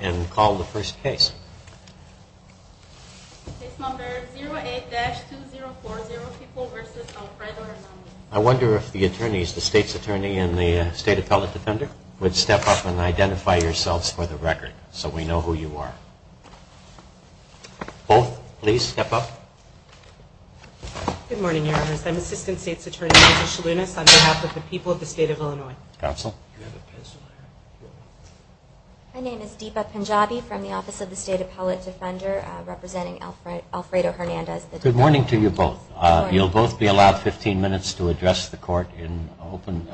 and call the first case. I wonder if the attorneys, the state's attorney and the state appellate defender would step up and identify yourselves for the record so we know who you are. Both please step up. Good morning your honors, I'm assistant state's attorney Lisa Shalounis on behalf of the people of the state of Illinois. Counsel. My name is Deepa Punjabi from the office of the state appellate defender representing Alfredo Hernandez. Good morning to you both. You'll both be allowed 15 minutes to address the court in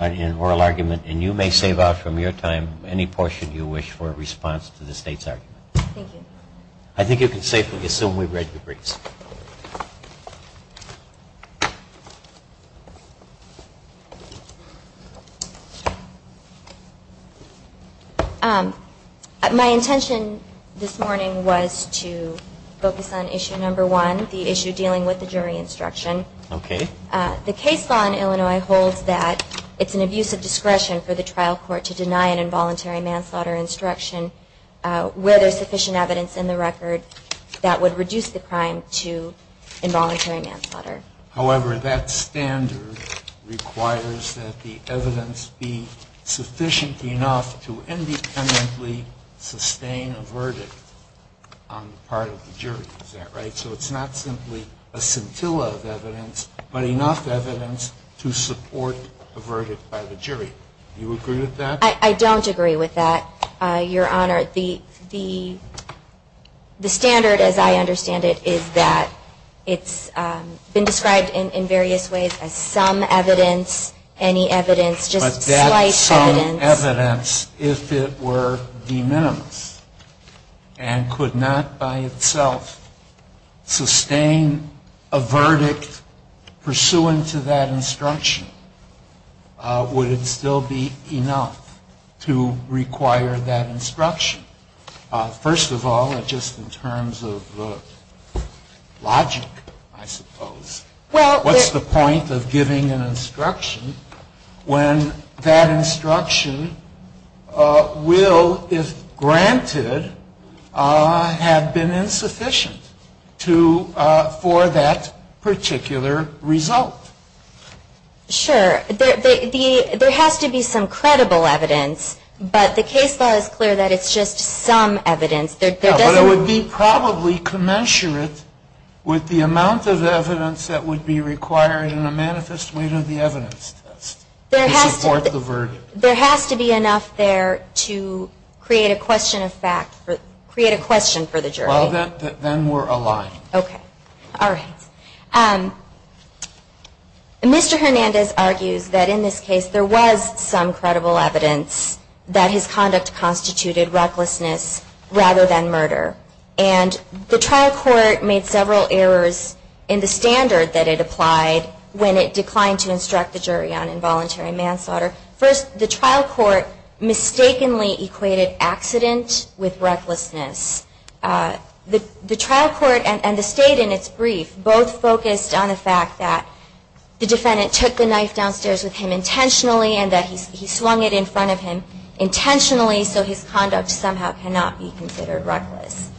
an oral argument and you may save up from your time any portion you wish for in response to the state's argument. Thank you. My intention this morning was to focus on issue number one, the issue dealing with the jury instruction. Okay. The case law in Illinois holds that it's an abuse of discretion for the trial court to deny an involuntary manslaughter instruction where there's sufficient evidence to support a verdict on the part of the jury. Is that right? So it's not simply a scintilla of evidence, but enough evidence to support a verdict by the jury. Do you agree with that? I don't agree with that, your honor. The standard as I understand it is that it's been described in various ways as some evidence, any evidence, just slight evidence. But that some evidence, if it were de minimis and could not by itself sustain a verdict pursuant to that instruction, would it still be enough to require that instruction? First of all, just in terms of logic, I suppose, what's the point of giving an instruction when that instruction will, if granted, have been insufficient for that particular result? Sure. There has to be some credible evidence, but the case law is clear that it's just some evidence. But it would be probably commensurate with the amount of evidence that would be required in a manifest way to the evidence test to support the verdict. There has to be enough there to create a question of fact, create a question for the jury. Well, then we're aligned. Okay. All right. Mr. Hernandez argues that in this case there was some credible evidence that his conduct constituted recklessness rather than murder. And the trial court made several errors in the standard that it applied when it declined to instruct the jury on involuntary manslaughter. First, the trial court mistakenly equated accident with recklessness. The trial court and the state in its brief both focused on the fact that the defendant took the knife downstairs with him intentionally and that he swung it in front of him intentionally, so his conduct somehow cannot be considered reckless.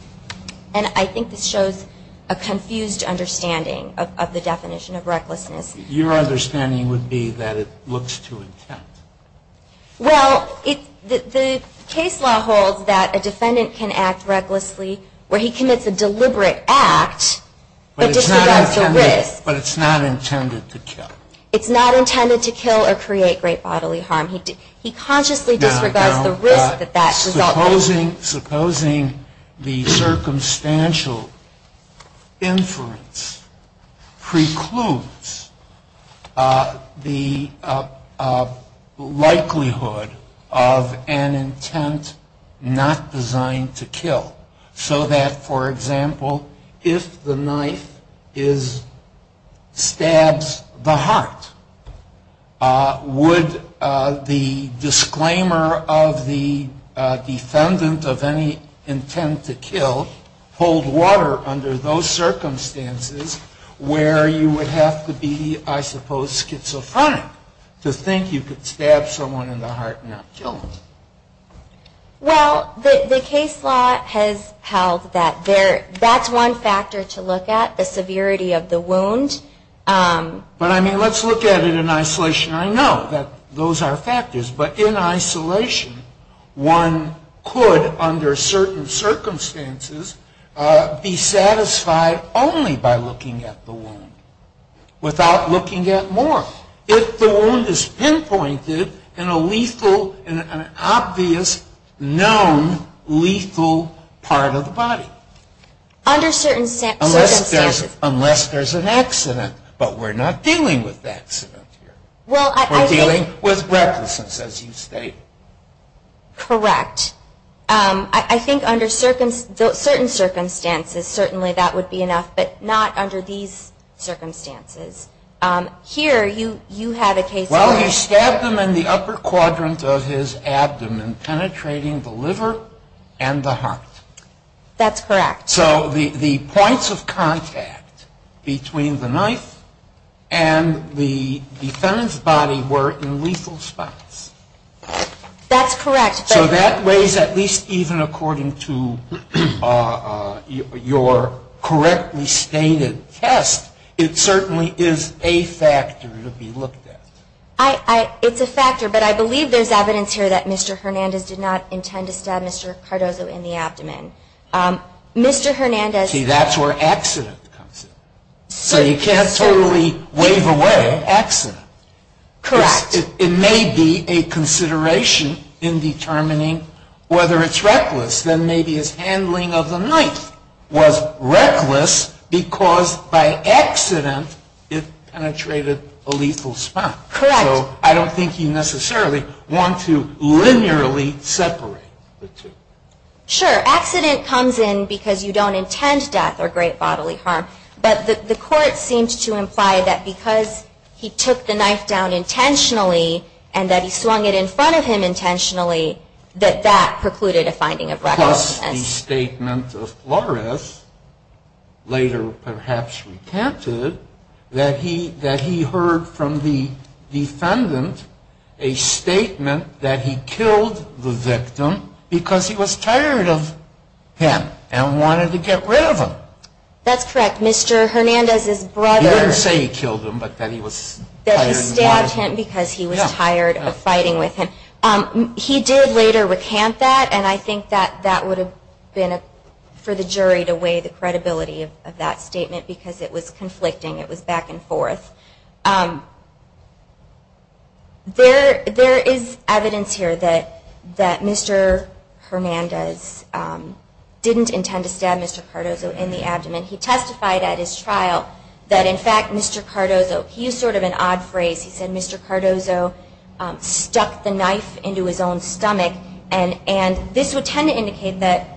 And I think this shows a confused understanding of the definition of recklessness. Your understanding would be that it looks to intent. Well, the case law holds that a defendant can act recklessly where he commits a deliberate act, but disregards the risk. But it's not intended to kill. It's not intended to kill or create great bodily harm. He consciously disregards the risk that that results in. Now, supposing the circumstantial inference precludes the likelihood of an intent not designed to kill, so that, for example, if the knife stabs the heart, would the disclaimer of the defendant of any intent to kill hold water under those circumstances where you would have to be, I suppose, schizophrenic to think you could stab someone in the heart and not kill them? Well, the case law has held that that's one factor to look at, the severity of the wound. But I mean, let's look at it in isolation. I know that those are factors, but in isolation one could, under certain circumstances, be satisfied only by looking at the wound, without looking at more. If the wound is pinpointed in a lethal, in an obvious, known lethal part of the body. Under certain circumstances. Unless there's an accident. But we're not dealing with accidents here. We're dealing with recklessness, as you state. Correct. I think under certain circumstances, certainly that would be enough, but not under these circumstances. Here, you have a case of a knife stabbing the liver and the heart. That's correct. So the points of contact between the knife and the defendant's body were in lethal spots. That's correct. So that weighs, at least even according to your correctly stated test, it certainly is a factor to be looked at. It's a factor, but I believe there's evidence here that Mr. Hernandez did not intend to stab Mr. Cardozo in the abdomen. Mr. Hernandez... See, that's where accident comes in. So you can't totally wave away accident. Correct. It may be a consideration in determining whether it's reckless. Then maybe his handling of the knife was reckless because by accident it penetrated a lethal spot. Correct. So I don't think you necessarily want to linearly separate the two. Sure. Accident comes in because you don't intend death or great bodily harm. But the fact that Mr. Hernandez did not intend to stab Mr. Cardozo in the abdomen and that he swung the knife down intentionally and that he swung it in front of him intentionally, that that precluded a finding of recklessness. Plus the statement of Flores, later perhaps retented, that he heard from the defendant a statement that he killed the victim because he was tired of him and wanted to get rid of him. That's correct. Mr. Hernandez's brother... He didn't say he killed him but that he was tired of him. That he stabbed him because he was tired of fighting with him. He did later recant that and I think that that would have been for the jury to weigh the credibility of that statement because it was conflicting. It was back and forth. There is evidence here that Mr. Hernandez didn't intend to stab Mr. Cardozo in the abdomen He testified at his trial that in fact Mr. Cardozo, he used sort of an odd phrase, he said Mr. Cardozo stuck the knife into his own stomach and this would tend to indicate that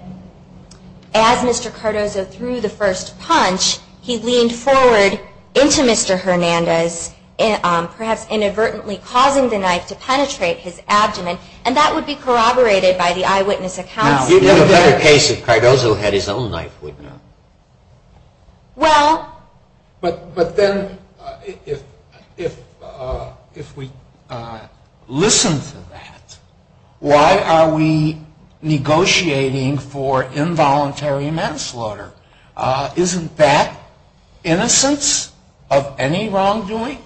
as Mr. Cardozo threw the first punch, he leaned forward into Mr. Hernandez, perhaps inadvertently causing the knife to penetrate his abdomen and that would be corroborated by the eyewitness accounts. You'd have a better case if Cardozo had his own knife, wouldn't you? Well, but then if we listen to that, why are we negotiating for involuntary manslaughter? Isn't that innocence of any wrongdoing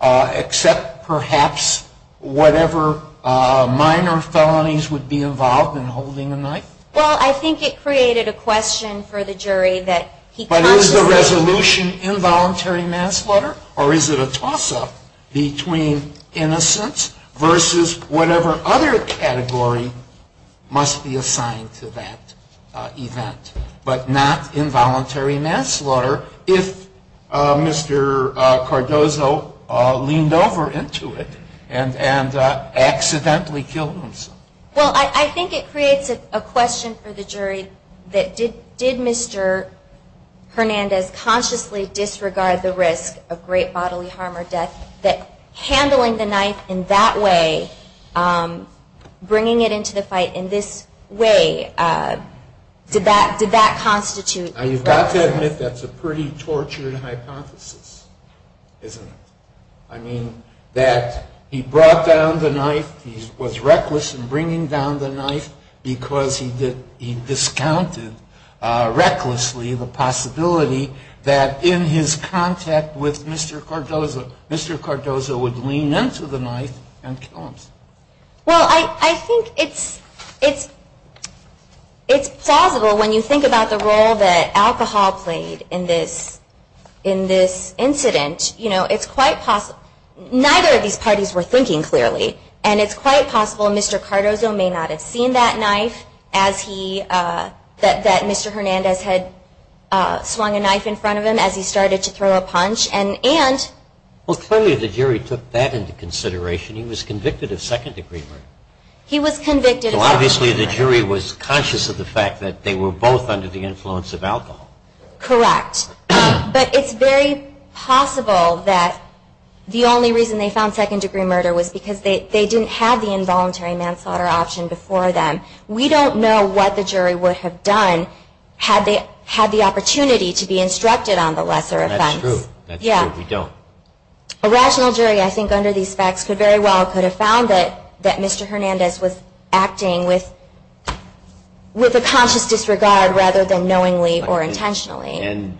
except perhaps whatever minor felonies would be involved in holding a knife? Well, I think it created a question for the jury that he consciously But is the resolution involuntary manslaughter or is it a toss-up between innocence versus whatever other category must be assigned to that event, but not involuntary manslaughter if Mr. Cardozo leaned over into it and accidentally killed himself? Well, I think it creates a question for the jury that did Mr. Hernandez consciously disregard the risk of great bodily harm or death that handling the knife in that way, bringing it into the fight in this way, did that constitute You've got to admit that's a pretty tortured hypothesis, isn't it? I mean, that he brought down the knife, he was reckless in bringing down the knife because he discounted recklessly the possibility that in his contact with Mr. Cardozo, Mr. Cardozo would lean into the knife and kill himself. Well, I think it's plausible when you think about the role that alcohol played in this incident. You know, it's quite possible, neither of these parties were thinking clearly and it's quite possible Mr. Cardozo may not have seen that knife as he, that Mr. Hernandez had swung a knife in front of him as he started to throw a punch and Well, clearly the jury took that into consideration. He was convicted of second degree murder. He was convicted of second degree murder. It's quite possible that the only reason they found second degree murder was because they didn't have the involuntary manslaughter option before them. We don't know what the jury would have done had they had the opportunity to be instructed on the lesser offense. That's true. We don't. A rational jury, I think, under these facts could very well have found that Mr. Hernandez was acting with a conscious disregard rather than knowingly or intentionally. And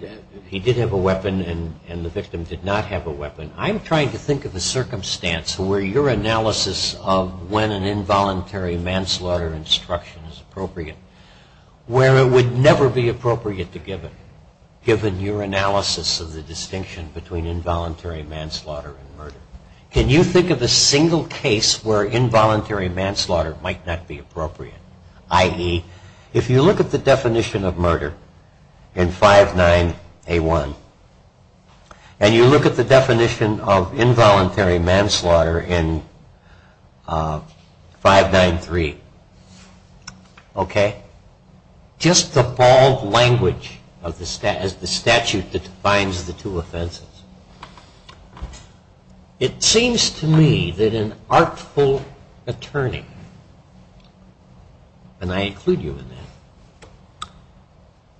he did have a weapon and the victim did not have a weapon. I'm trying to think of a circumstance where your analysis of when an involuntary manslaughter instruction is appropriate where it would never be appropriate to give it, given your analysis of the distinction between involuntary manslaughter and murder. Can you think of a single case where involuntary manslaughter might not be appropriate? I.e., if you look at the definition of murder in 5.9.A.1 and you look at the definition of involuntary manslaughter in 5.9.3, just the bald language of the statute that defines the two offenses. It seems to me that an artful attorney, and I include you in that,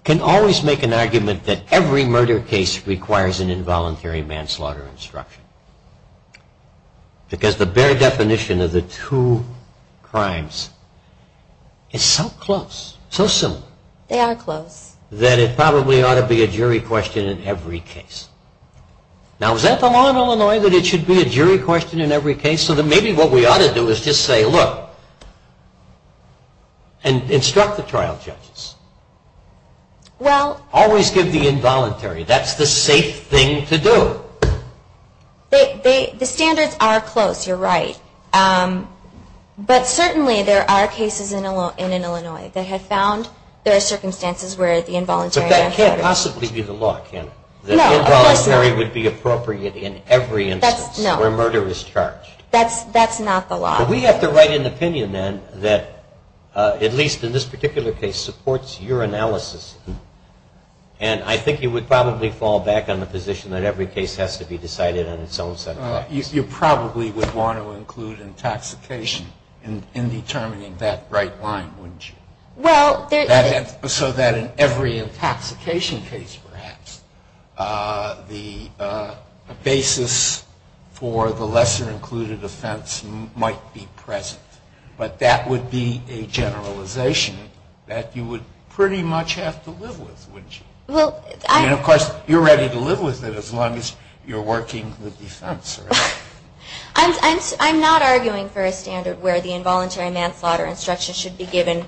can always make an argument that every murder case requires an involuntary manslaughter instruction. Because the bare definition of the two crimes is so close, so similar. That it probably ought to be a jury question in every case. Now, is that the law in Illinois that it should be a jury question in every case? So maybe what we ought to do is just say, look, and instruct the trial judges. Always give the involuntary. That's the safe thing to do. The standards are close, you're right. But certainly there are cases in Illinois that have found there are circumstances where the involuntary manslaughter. But that can't possibly be the law, can it? That involuntary would be appropriate in every instance where murder is charged. That's not the law. But we have to write an opinion then that, at least in this particular case, supports your analysis. And I think you would probably fall back on the position that every case has to be decided on its own set of laws. You probably would want to include intoxication in determining that right line, wouldn't you? So that in every intoxication case, perhaps, the basis for the lesser included offense might be present. But that would be a generalization that you would pretty much have to live with, wouldn't you? I mean, of course, you're ready to live with it as long as you're working the defense. I'm not arguing for a standard where the involuntary manslaughter instruction should be given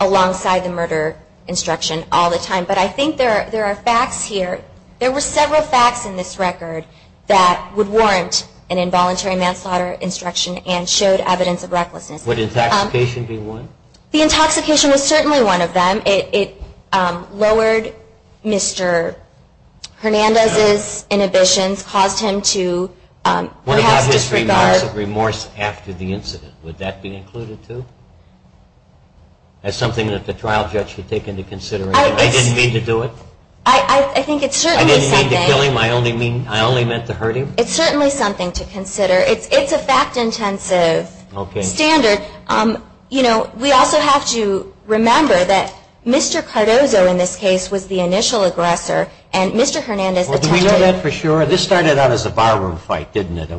alongside the murder instruction all the time. But I think there are facts here. There were several facts in this record that would warrant an involuntary manslaughter instruction and showed evidence of recklessness. Would intoxication be one? The intoxication was certainly one of them. It lowered Mr. Hernandez's inhibitions, caused him to perhaps disregard... What about his remorse after the incident? Would that be included, too? That's something that the trial judge could take into consideration. I didn't mean to do it. I think it's certainly something... I only meant to hurt him. It's certainly something to consider. It's a fact-intensive standard. We also have to remember that Mr. Cardozo, in this case, was the initial aggressor, and Mr. Hernandez... Do we know that for sure? This started out as a barroom fight, didn't it?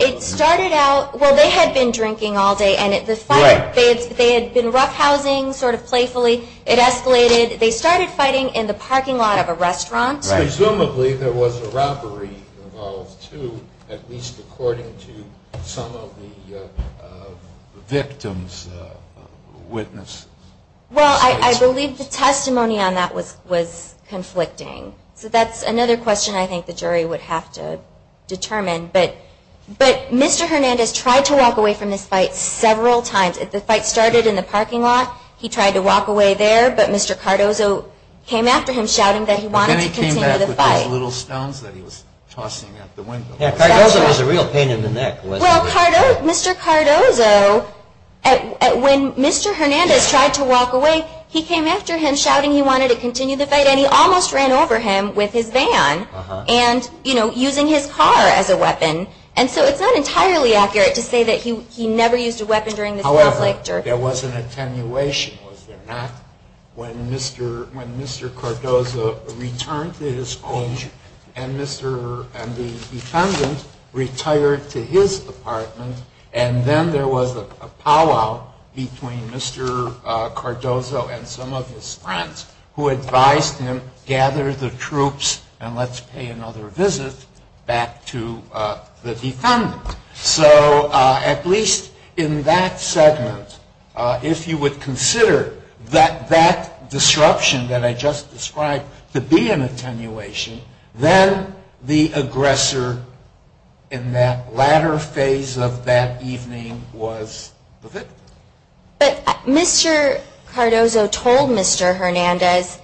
It started out... Well, they had been drinking all day, and they had been roughhousing sort of playfully. It escalated. They started fighting in the parking lot of a restaurant. Presumably there was a robbery involved, too, at least according to some of the victims' witnesses. Well, I believe the testimony on that was conflicting. So that's another question I think the jury would have to determine. But Mr. Hernandez tried to walk away from this fight several times. The fight started in the parking lot. He tried to walk away there. But Mr. Cardozo came after him shouting that he wanted to continue the fight. Cardozo was a real pain in the neck, wasn't he? Mr. Cardozo, when Mr. Hernandez tried to walk away, he came after him shouting he wanted to continue the fight, and he almost ran over him with his van and, you know, using his car as a weapon. And so it's not entirely accurate to say that he never used a weapon during this conflict. However, there was an attenuation, was there not? When Mr. Cardozo returned to his home and the defendant retired to his apartment and then there was a powwow between Mr. Cardozo and some of his friends who advised him, gather the troops and let's pay another visit back to the defendant. So at least in that segment, if you would consider that moment and that disruption that I just described to be an attenuation, then the aggressor in that latter phase of that evening was the victim. But Mr. Cardozo told Mr. Hernandez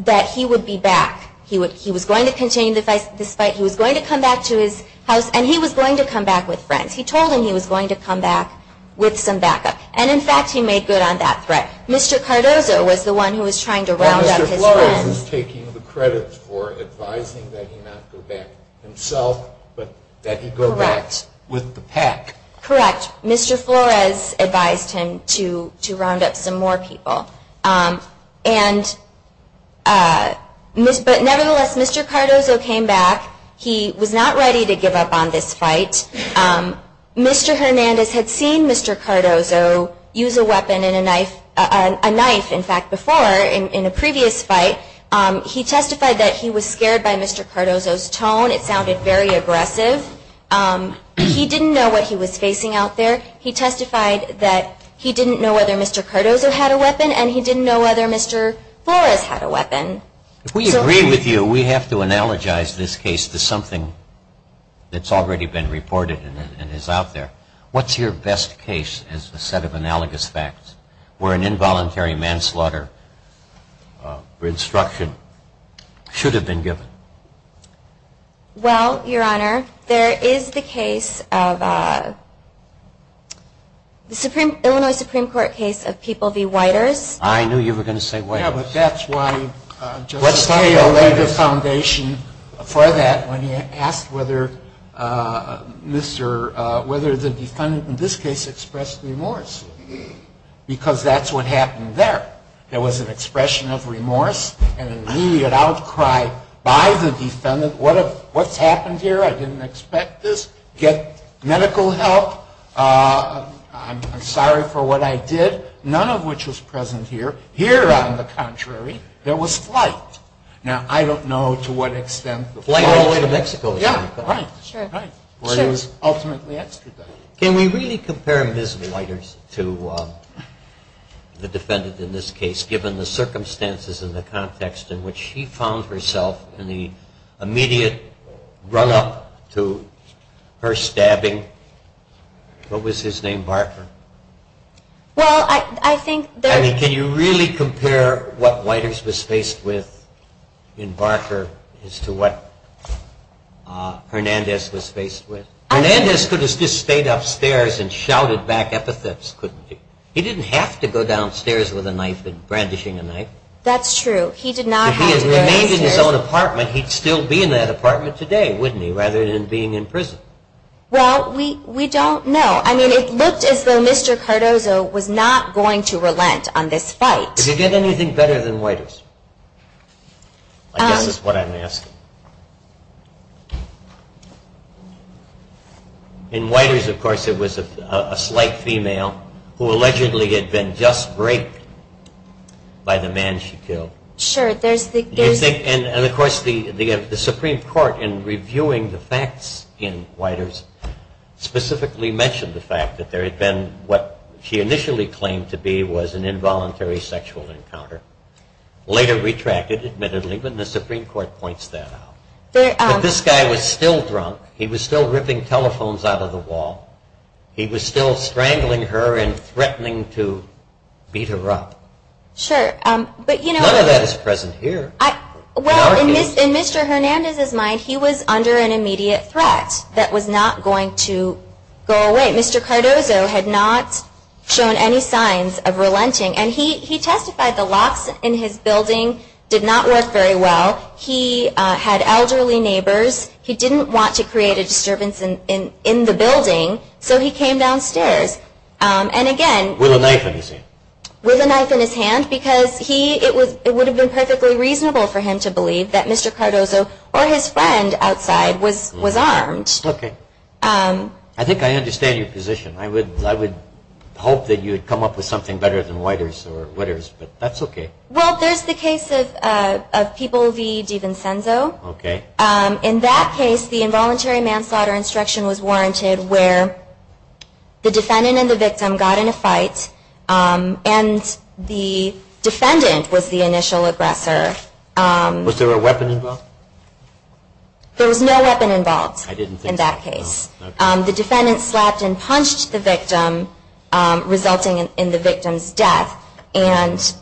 that he would be back. He was going to continue this fight. He was going to come back to his house. And he was going to come back with friends. He told him he was going to come back with some backup. And in fact, he made good on that threat. Mr. Cardozo was the one who was trying to round up his friends. And Mr. Flores was taking the credit for advising that he not go back himself, but that he go back with the pack. Correct. Mr. Flores advised him to round up some more people. But nevertheless, Mr. Cardozo came back. He was not ready to give up on this fight. Mr. Hernandez had seen Mr. Cardozo use a weapon and a knife, in fact, before in a previous fight. He testified that he was scared by Mr. Cardozo's tone. It sounded very aggressive. He didn't know what he was facing out there. He testified that he didn't know whether Mr. Cardozo had a weapon and he didn't know whether Mr. Flores had a weapon. We agree with you. We have to analogize this case to something that's already been reported and is out there. What's your best case as a set of analogous facts where an involuntary manslaughter instruction should have been given? Well, Your Honor, there is the case of the Illinois Supreme Court case of People v. Whiters. I knew you were going to say Whiters. Yeah, but that's why Justice Scalia laid the foundation for that when he asked whether the defendant in this case expressed remorse. Because that's what happened there. There was an expression of remorse and an immediate outcry by the defendant. What's happened here? I didn't expect this. Get medical help. I'm sorry for what I did. None of which was present here. Here, on the contrary, there was flight. Can we really compare Ms. Whiters to the defendant in this case given the circumstances and the context in which she found herself in the immediate run-up to her stabbing? What was his name? Barker. Can you really compare what Whiters was faced with in Barker as to what Hernandez was faced with? Hernandez could have just stayed upstairs and shouted back epithets, couldn't he? He didn't have to go downstairs with a knife and brandishing a knife. That's true. If he had remained in his own apartment, he'd still be in that apartment today, wouldn't he, rather than being in prison? Well, we don't know. I mean, it looked as though Mr. Cardozo was not going to relent on this fight. Did he get anything better than Whiters? I guess that's what I'm asking. In Whiters, of course, it was a slight female who allegedly had been just raped by the man she killed. Sure. And, of course, the Supreme Court, in reviewing the facts in Whiters, specifically mentioned the fact that there had been what she initially claimed to be was an involuntary sexual encounter. Later retracted, admittedly, when the Supreme Court points that out. But this guy was still drunk. He was still ripping telephones out of the wall. He was still strangling her and threatening to beat her up. None of that is present here. Well, in Mr. Hernandez's mind, he was under an immediate threat that was not going to go away. Mr. Cardozo had not shown any signs of relenting. And he testified the locks in his building did not work very well. He had elderly neighbors. He didn't want to create a disturbance in the building, so he came downstairs. And, again, with a knife in his hand. Because it would have been perfectly reasonable for him to believe that Mr. Cardozo or his friend outside was armed. Okay. I think I understand your position. I would hope that you would come up with something better than Whiters, but that's okay. Well, there's the case of People v. DiVincenzo. In that case, the involuntary manslaughter instruction was warranted where the defendant and the victim got in a fight. And the defendant was the initial aggressor. Was there a weapon involved? There was no weapon involved in that case. The defendant slapped and punched the victim, resulting in the victim's death. And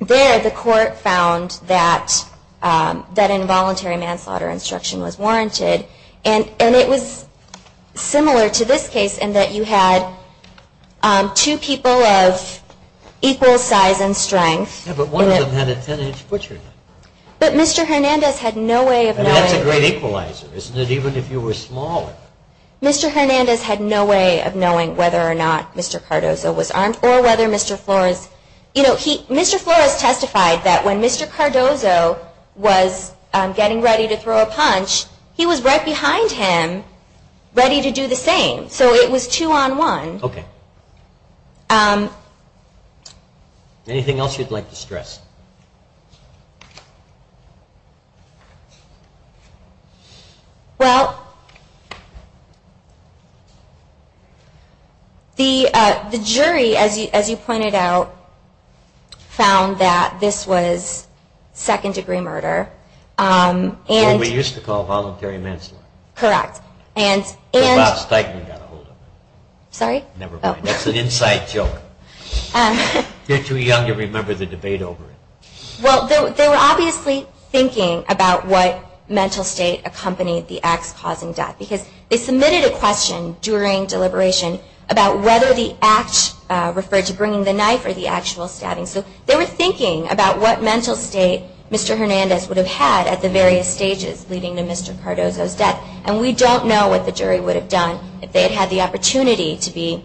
there the court found that involuntary manslaughter instruction was warranted. And it was similar to this case in that you had two people of equal size and strength. Yeah, but one of them had a 10-inch butcher knife. But Mr. Hernandez had no way of knowing... That's a great equalizer, isn't it, even if you were smaller? Mr. Hernandez had no way of knowing whether or not Mr. Cardozo was armed or whether Mr. Flores... Mr. Flores testified that when Mr. Cardozo was getting ready to throw a punch, he was right behind him ready to do the same. So it was two-on-one. Okay. Anything else you'd like to stress? Well... The jury, as you pointed out, found that this was second-degree murder. What we used to call voluntary manslaughter. Correct. That's an inside joke. You're too young to remember the debate over it. Well, they were obviously thinking about what mental state accompanied the acts causing death. Because they submitted a question during deliberation about whether the acts referred to bringing the knife or the actual stabbing. So they were thinking about what mental state Mr. Hernandez would have had at the various stages leading to Mr. Cardozo's death. And we don't know what the jury would have done if they had had the opportunity to be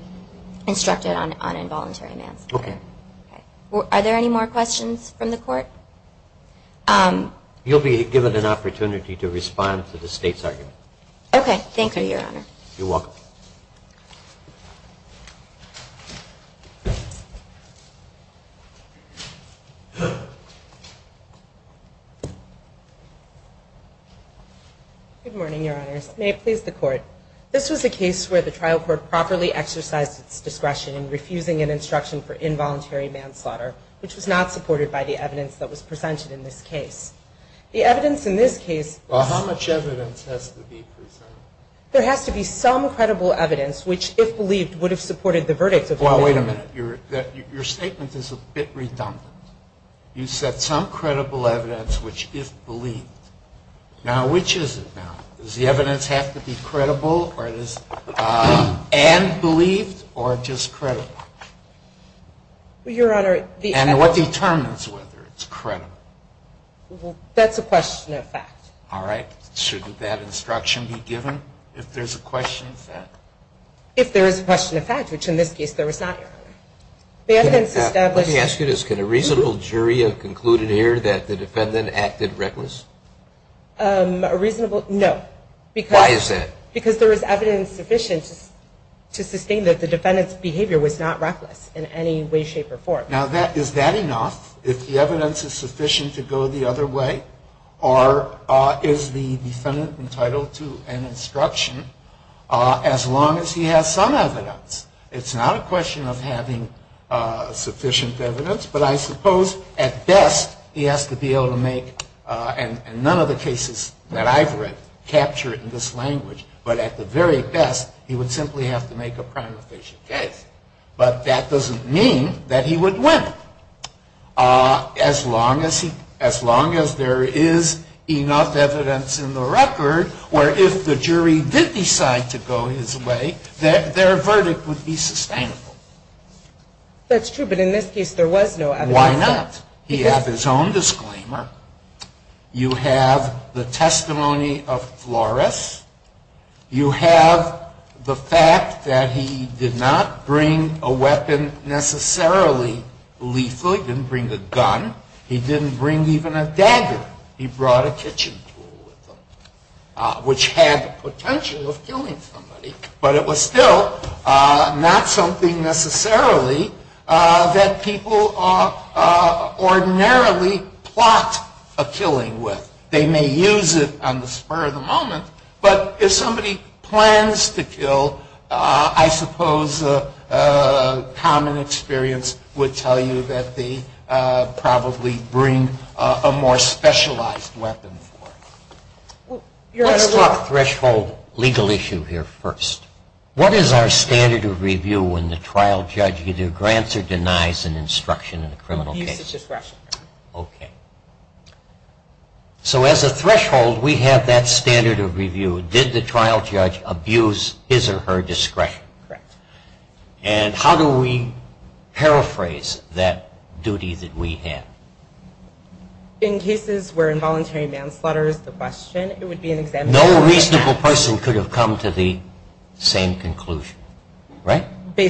instructed on involuntary manslaughter. Okay. Are there any more questions from the Court? You'll be given an opportunity to respond to the State's argument. Okay. Thank you, Your Honor. You're welcome. Good morning, Your Honors. May it please the Court. This was a case where the trial court properly exercised its discretion in refusing an instruction for involuntary manslaughter, which was not supported by the evidence that was presented in this case. The evidence in this case is How much evidence has to be presented? There has to be some credible evidence which, if believed, would have supported the verdict. Well, wait a minute. Your statement is a bit redundant. You said some credible evidence which, if believed. Now, which is it now? Does the evidence have to be credible and believed or just credible? And what determines whether it's credible? That's a question of fact. Your Honor, I'm going to ask you a question. Can a reasonable jury have concluded here that the defendant acted reckless? A reasonable? No. Why is that? Because there was evidence sufficient to sustain that the defendant's behavior was not reckless in any way, shape, or form. Now, is that enough? If the evidence is sufficient to go the other way? Or is the defendant entitled to an instruction as long as he has some evidence? It's not a question of having sufficient evidence, but I suppose at best he has to be able to make, and none of the cases that I've read capture it in this language, but at the very best he would simply have to make a prime official case. But that doesn't mean that he would win. As long as there is enough evidence in the record, or if the jury did decide to go his way, their verdict would be sustainable. That's true, but in this case there was no evidence. Why not? He had his own disclaimer. You have the testimony of Flores. You have the fact that he did not bring a weapon necessarily lethally. He didn't bring a gun. He didn't bring even a dagger. He brought a kitchen tool with him, which had the potential of killing somebody, but it was still not something necessarily that people ordinarily plot a killing with. They may use it on the spur of the moment, but if somebody plans to kill, I suppose common experience would tell you that they probably bring a more specialized weapon for it. Let's talk threshold legal issue here first. What is our standard of review when the trial judge either grants or denies an instruction in a criminal case? Okay. As a threshold, we have that standard of review. Did the trial judge abuse his or her discretion? How do we paraphrase that duty that we have? In cases where involuntary manslaughter is the question, no reasonable person could have come to the same conclusion, right? No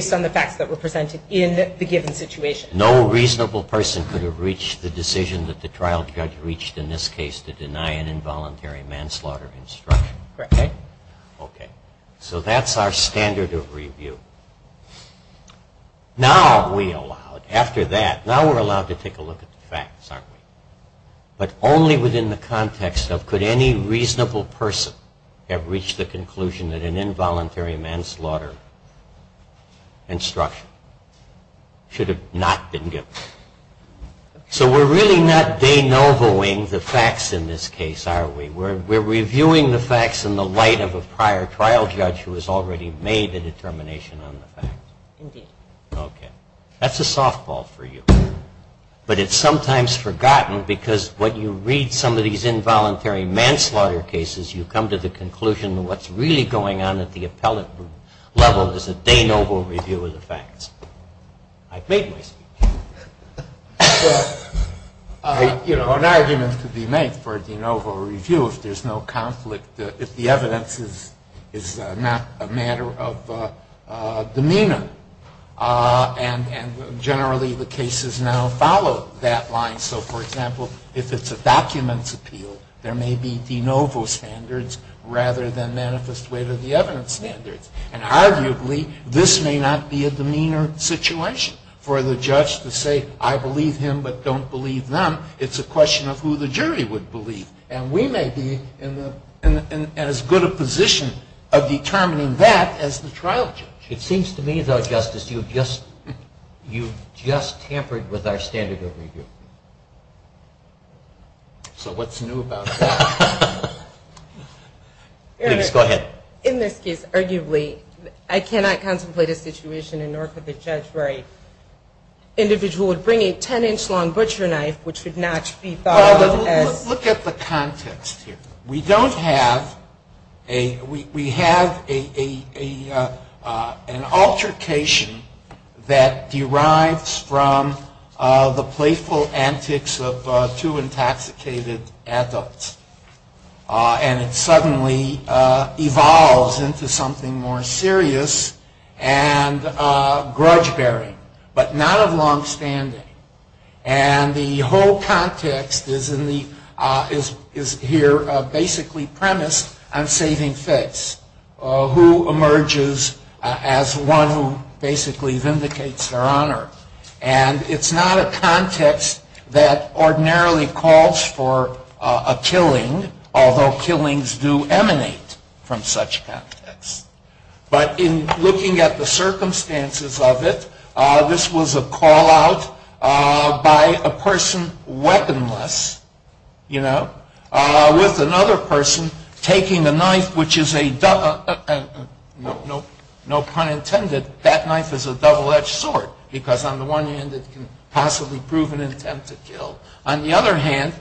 reasonable person could have reached the decision that the trial judge reached in this case to deny an involuntary manslaughter instruction. That's our standard of review. Now we're allowed to take a look at the facts, aren't we? But only within the context of could any reasonable person have reached the conclusion that an involuntary manslaughter instruction should have not been given. So we're really not de novoing the facts in this case, are we? We're reviewing the facts in the light of a prior trial judge who has already made a determination on the fact. Okay. That's a softball for you. But it's sometimes forgotten because when you read some of these involuntary manslaughter cases, you come to the conclusion that what's really going on at the appellate level is a de novo review of the facts. I've made my speech. An argument could be made for a de novo review if there's no conflict, if the evidence is not a matter of demeanor. And generally the cases now follow that line. So, for example, if it's a documents appeal, there may be de novo standards rather than manifest way to the evidence standards. And arguably this may not be a demeanor situation. For the judge to say I believe him but don't believe them, it's a question of who the jury would believe. And we may be in as good a position of determining that as the trial judge. It seems to me, though, Justice, you've just tampered with our standard of review. So what's new about that? Go ahead. In this case, arguably, I cannot contemplate a situation in which the judge would bring a 10-inch long butcher knife which would not be thought of as... Look at the context here. We have an altercation that derives from the playful antics of two intoxicated adults. And it suddenly evolves into something more serious and grudge-bearing, but not of long-standing. And the whole context is here basically premised on saving face, who emerges as one who basically vindicates their honor. And it's not a context that ordinarily calls for a killing. Although killings do emanate from such contexts. But in looking at the circumstances of it, this was a call-out by a person weaponless, you know, with another person taking a knife which is a... No pun intended, that knife is a double-edged sword, because on the one hand it can possibly prove an attempt to kill. On the other hand,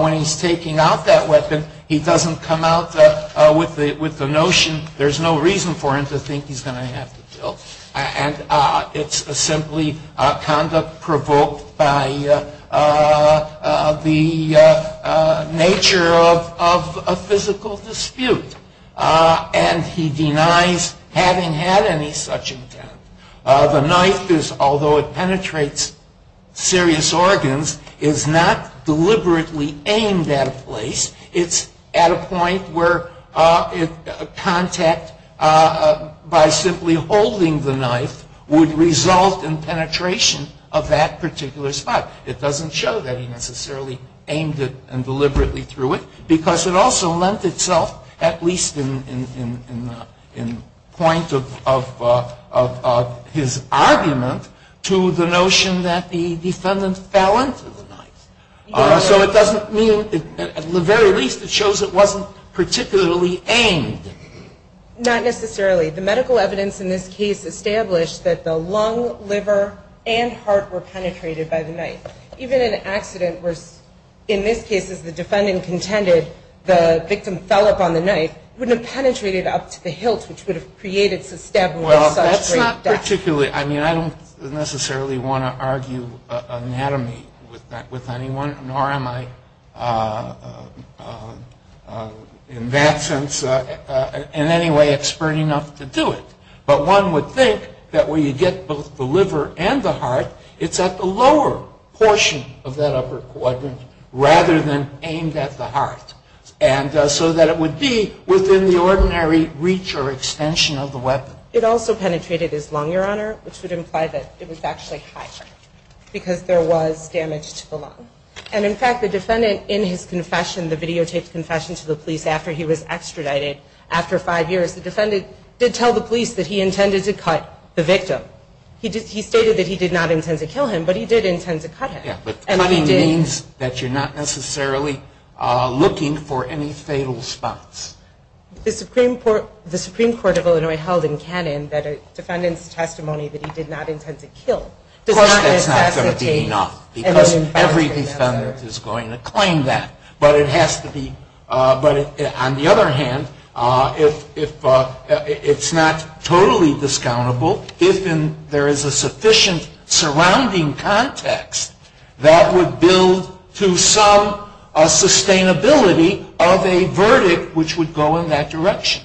when he's taking out that weapon, he doesn't come out with the notion there's no reason for him to think he's going to have to kill. And it's simply conduct provoked by the nature of a physical dispute. And he denies having had any such intent. The knife, although it penetrates serious organs, is not deliberately aimed at a place. It's at a point where contact by simply holding the knife would result in penetration of that particular spot. It doesn't show that he necessarily aimed it and deliberately threw it. Because it also lent itself, at least in point of contention, to a point where he could have aimed it. But it doesn't go beyond his argument to the notion that the defendant fell into the knife. So it doesn't mean, at the very least, it shows it wasn't particularly aimed. Not necessarily. The medical evidence in this case established that the lung, liver, and heart were penetrated by the knife. Even an accident where, in this case, as the defendant contended, the victim fell upon the knife, wouldn't have penetrated up to the hilt, which would have created a stab wound. I don't necessarily want to argue anatomy with anyone, nor am I, in that sense, in any way expert enough to do it. But one would think that when you get both the liver and the heart, it's at the lower portion of that upper quadrant rather than aimed at the heart. And so that it would be within the ordinary reach or extension of the weapon. It also penetrated his lung, Your Honor, which would imply that it was actually high. Because there was damage to the lung. And in fact, the defendant, in his confession, the videotaped confession to the police after he was extradited, after five years, the defendant did tell the police that he intended to cut the victim. He stated that he did not intend to kill him, but he did intend to cut him. Yeah, but cutting means that you're not necessarily looking for any fatal spots. The Supreme Court of Illinois held in canon that a defendant's testimony that he did not intend to kill does not necessitate... Of course, that's not going to be enough, because every defendant is going to claim that. But it has to be... But on the other hand, it's not totally discountable if there is a sufficient surrounding context that would build to some sustainability of a verdict which would go in that direction.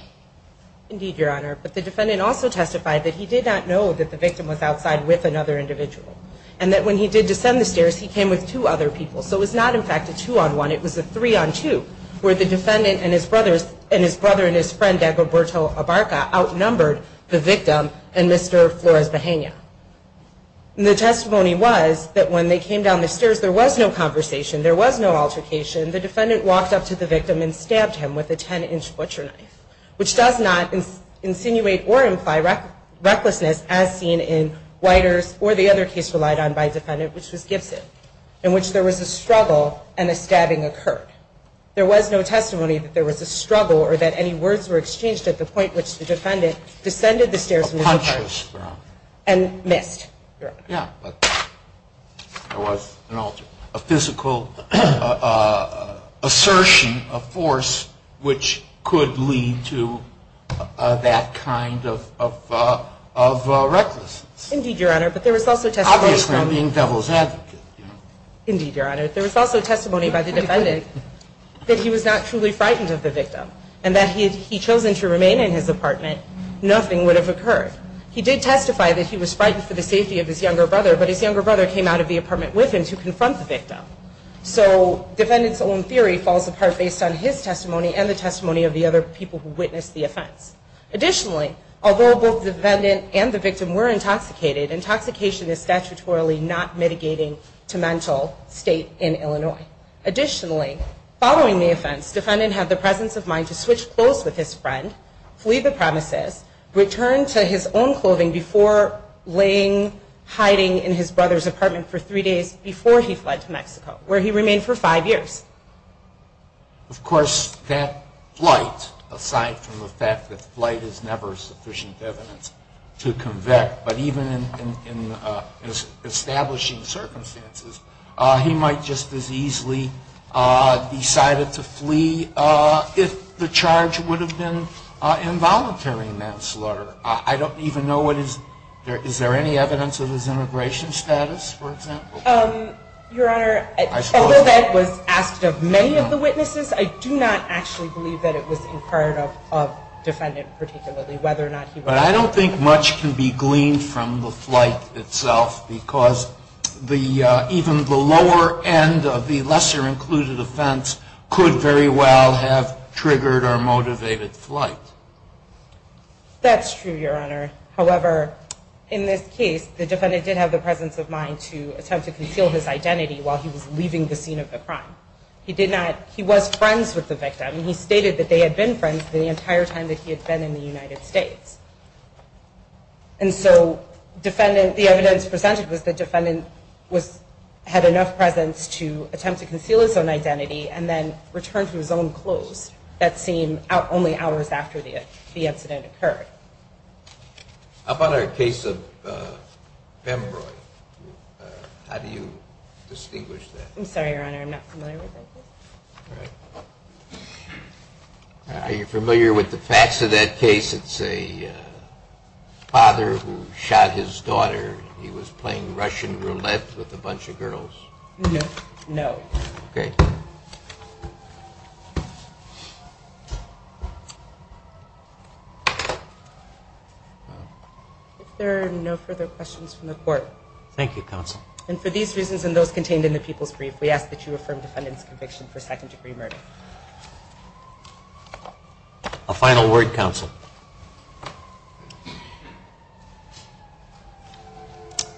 Indeed, Your Honor, but the defendant also testified that he did not know that the victim was outside with another individual. And that when he did descend the stairs, he came with two other people. So it was not, in fact, a two-on-one. It was a three-on-two, where the defendant and his brother and his friend, Dagoberto Abarca, outnumbered the victim and Mr. Flores-Bahena. And the testimony was that when they came down the stairs, there was no conversation. There was no altercation. The defendant walked up to the victim and stabbed him with a 10-inch butcher knife, which does not insinuate or imply recklessness, as seen in Whiter's or the other case relied on by the defendant, which was Gibson, in which there was a struggle and a stabbing occurred. There was no testimony that there was a struggle or that any words were exchanged at the point which the defendant descended the stairs and missed. There was a physical assertion of force which could lead to that kind of recklessness. Obviously, I'm being devil's advocate. Indeed, Your Honor. There was also testimony by the defendant that he was not truly frightened of the victim and that if he had chosen to remain in his apartment, nothing would have occurred. He did testify that he was frightened for the safety of his younger brother, but his younger brother came out of the apartment with him to confront the victim. So defendant's own theory falls apart based on his testimony and the testimony of the other people who witnessed the offense. Additionally, although both the defendant and the victim were intoxicated, intoxication is statutorily not mitigating to mental state in Illinois. Additionally, following the offense, defendant had the presence of mind to switch clothes with his friend, flee the premises, return to his own clothing before laying hiding in his brother's apartment for three days before he fled to Mexico, where he remained for five years. Of course, that flight, aside from the fact that flight is never sufficient evidence to convict, but even in establishing circumstances, he might just as easily decided to flee if the charge would have been involuntary manslaughter. I don't even know what his, is there any evidence of his immigration status, for example? Your Honor, although that was asked of many of the witnesses, I do not actually believe that it was in part of defendant particularly, whether or not he was. But I don't think much can be gleaned from the flight itself, because even the lower end of the lesser included offense could very well have triggered or motivated flight. That's true, Your Honor. However, in this case, the defendant did have the presence of mind to attempt to conceal his identity while he was leaving the scene of the crime. He did not, he was friends with the victim. He stated that they had been friends the entire time that he had been in the United States. And so, defendant, the evidence presented was the defendant had enough presence to attempt to conceal his own identity and then return to his own clothes that scene only hours after the incident occurred. Upon our case of Embroy, how do you distinguish that? I'm sorry, Your Honor, I'm not familiar with that case. Are you familiar with the facts of that case? It's a father who shot his daughter. He was playing Russian Roulette with a bunch of girls. No. Okay. If there are no further questions from the Court. Thank you, Counsel. And for these reasons and those contained in the People's Brief, we ask that you affirm defendant's conviction for second degree murder. A final word, Counsel.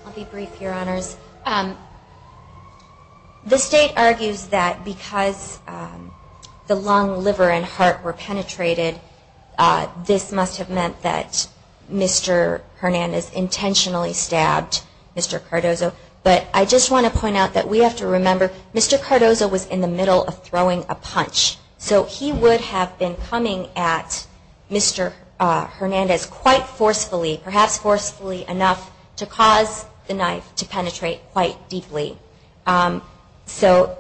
I'll be brief, Your Honors. The State argues that because the lung, liver, and heart were penetrated, this must have meant that Mr. Hernandez intentionally stabbed Mr. Cardozo. But I just want to point out that we have to remember Mr. Cardozo was in the middle of throwing a punch. So he would have been coming at Mr. Hernandez quite forcefully, perhaps forcefully enough to cause the knife to penetrate quite deeply. So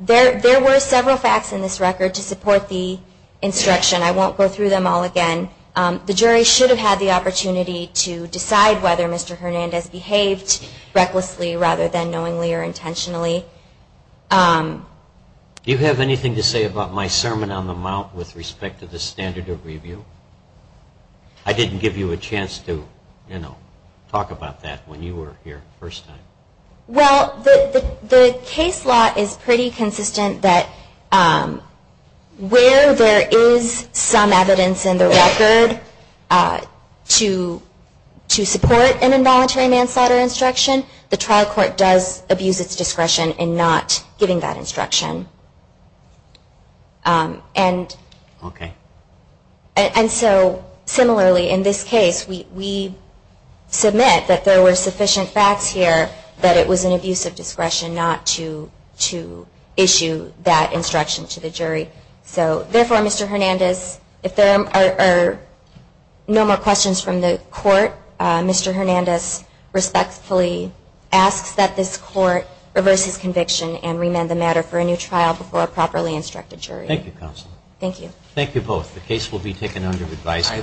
there were several facts in this record to support the instruction. I won't go through them all again. The jury should have had the opportunity to decide whether Mr. Hernandez behaved recklessly rather than knowingly or intentionally. Do you have anything to say about my sermon on the mount with respect to the standard of review? I didn't give you a chance to talk about that when you were here the first time. Well, the case law is pretty consistent that where there is some evidence in the record to support an involuntary manslaughter instruction, the trial court does abuse its discretion in not giving that instruction. And so similarly in this case, we submit that there were sufficient facts here that it was an abuse of discretion not to issue that instruction to the jury. So therefore, Mr. Hernandez, if there are no more questions from the court, Mr. Hernandez respectfully asks that this court reverse his conviction and remand the matter for a new trial before a properly instructed jury. Thank you both. The case will be taken under advisory.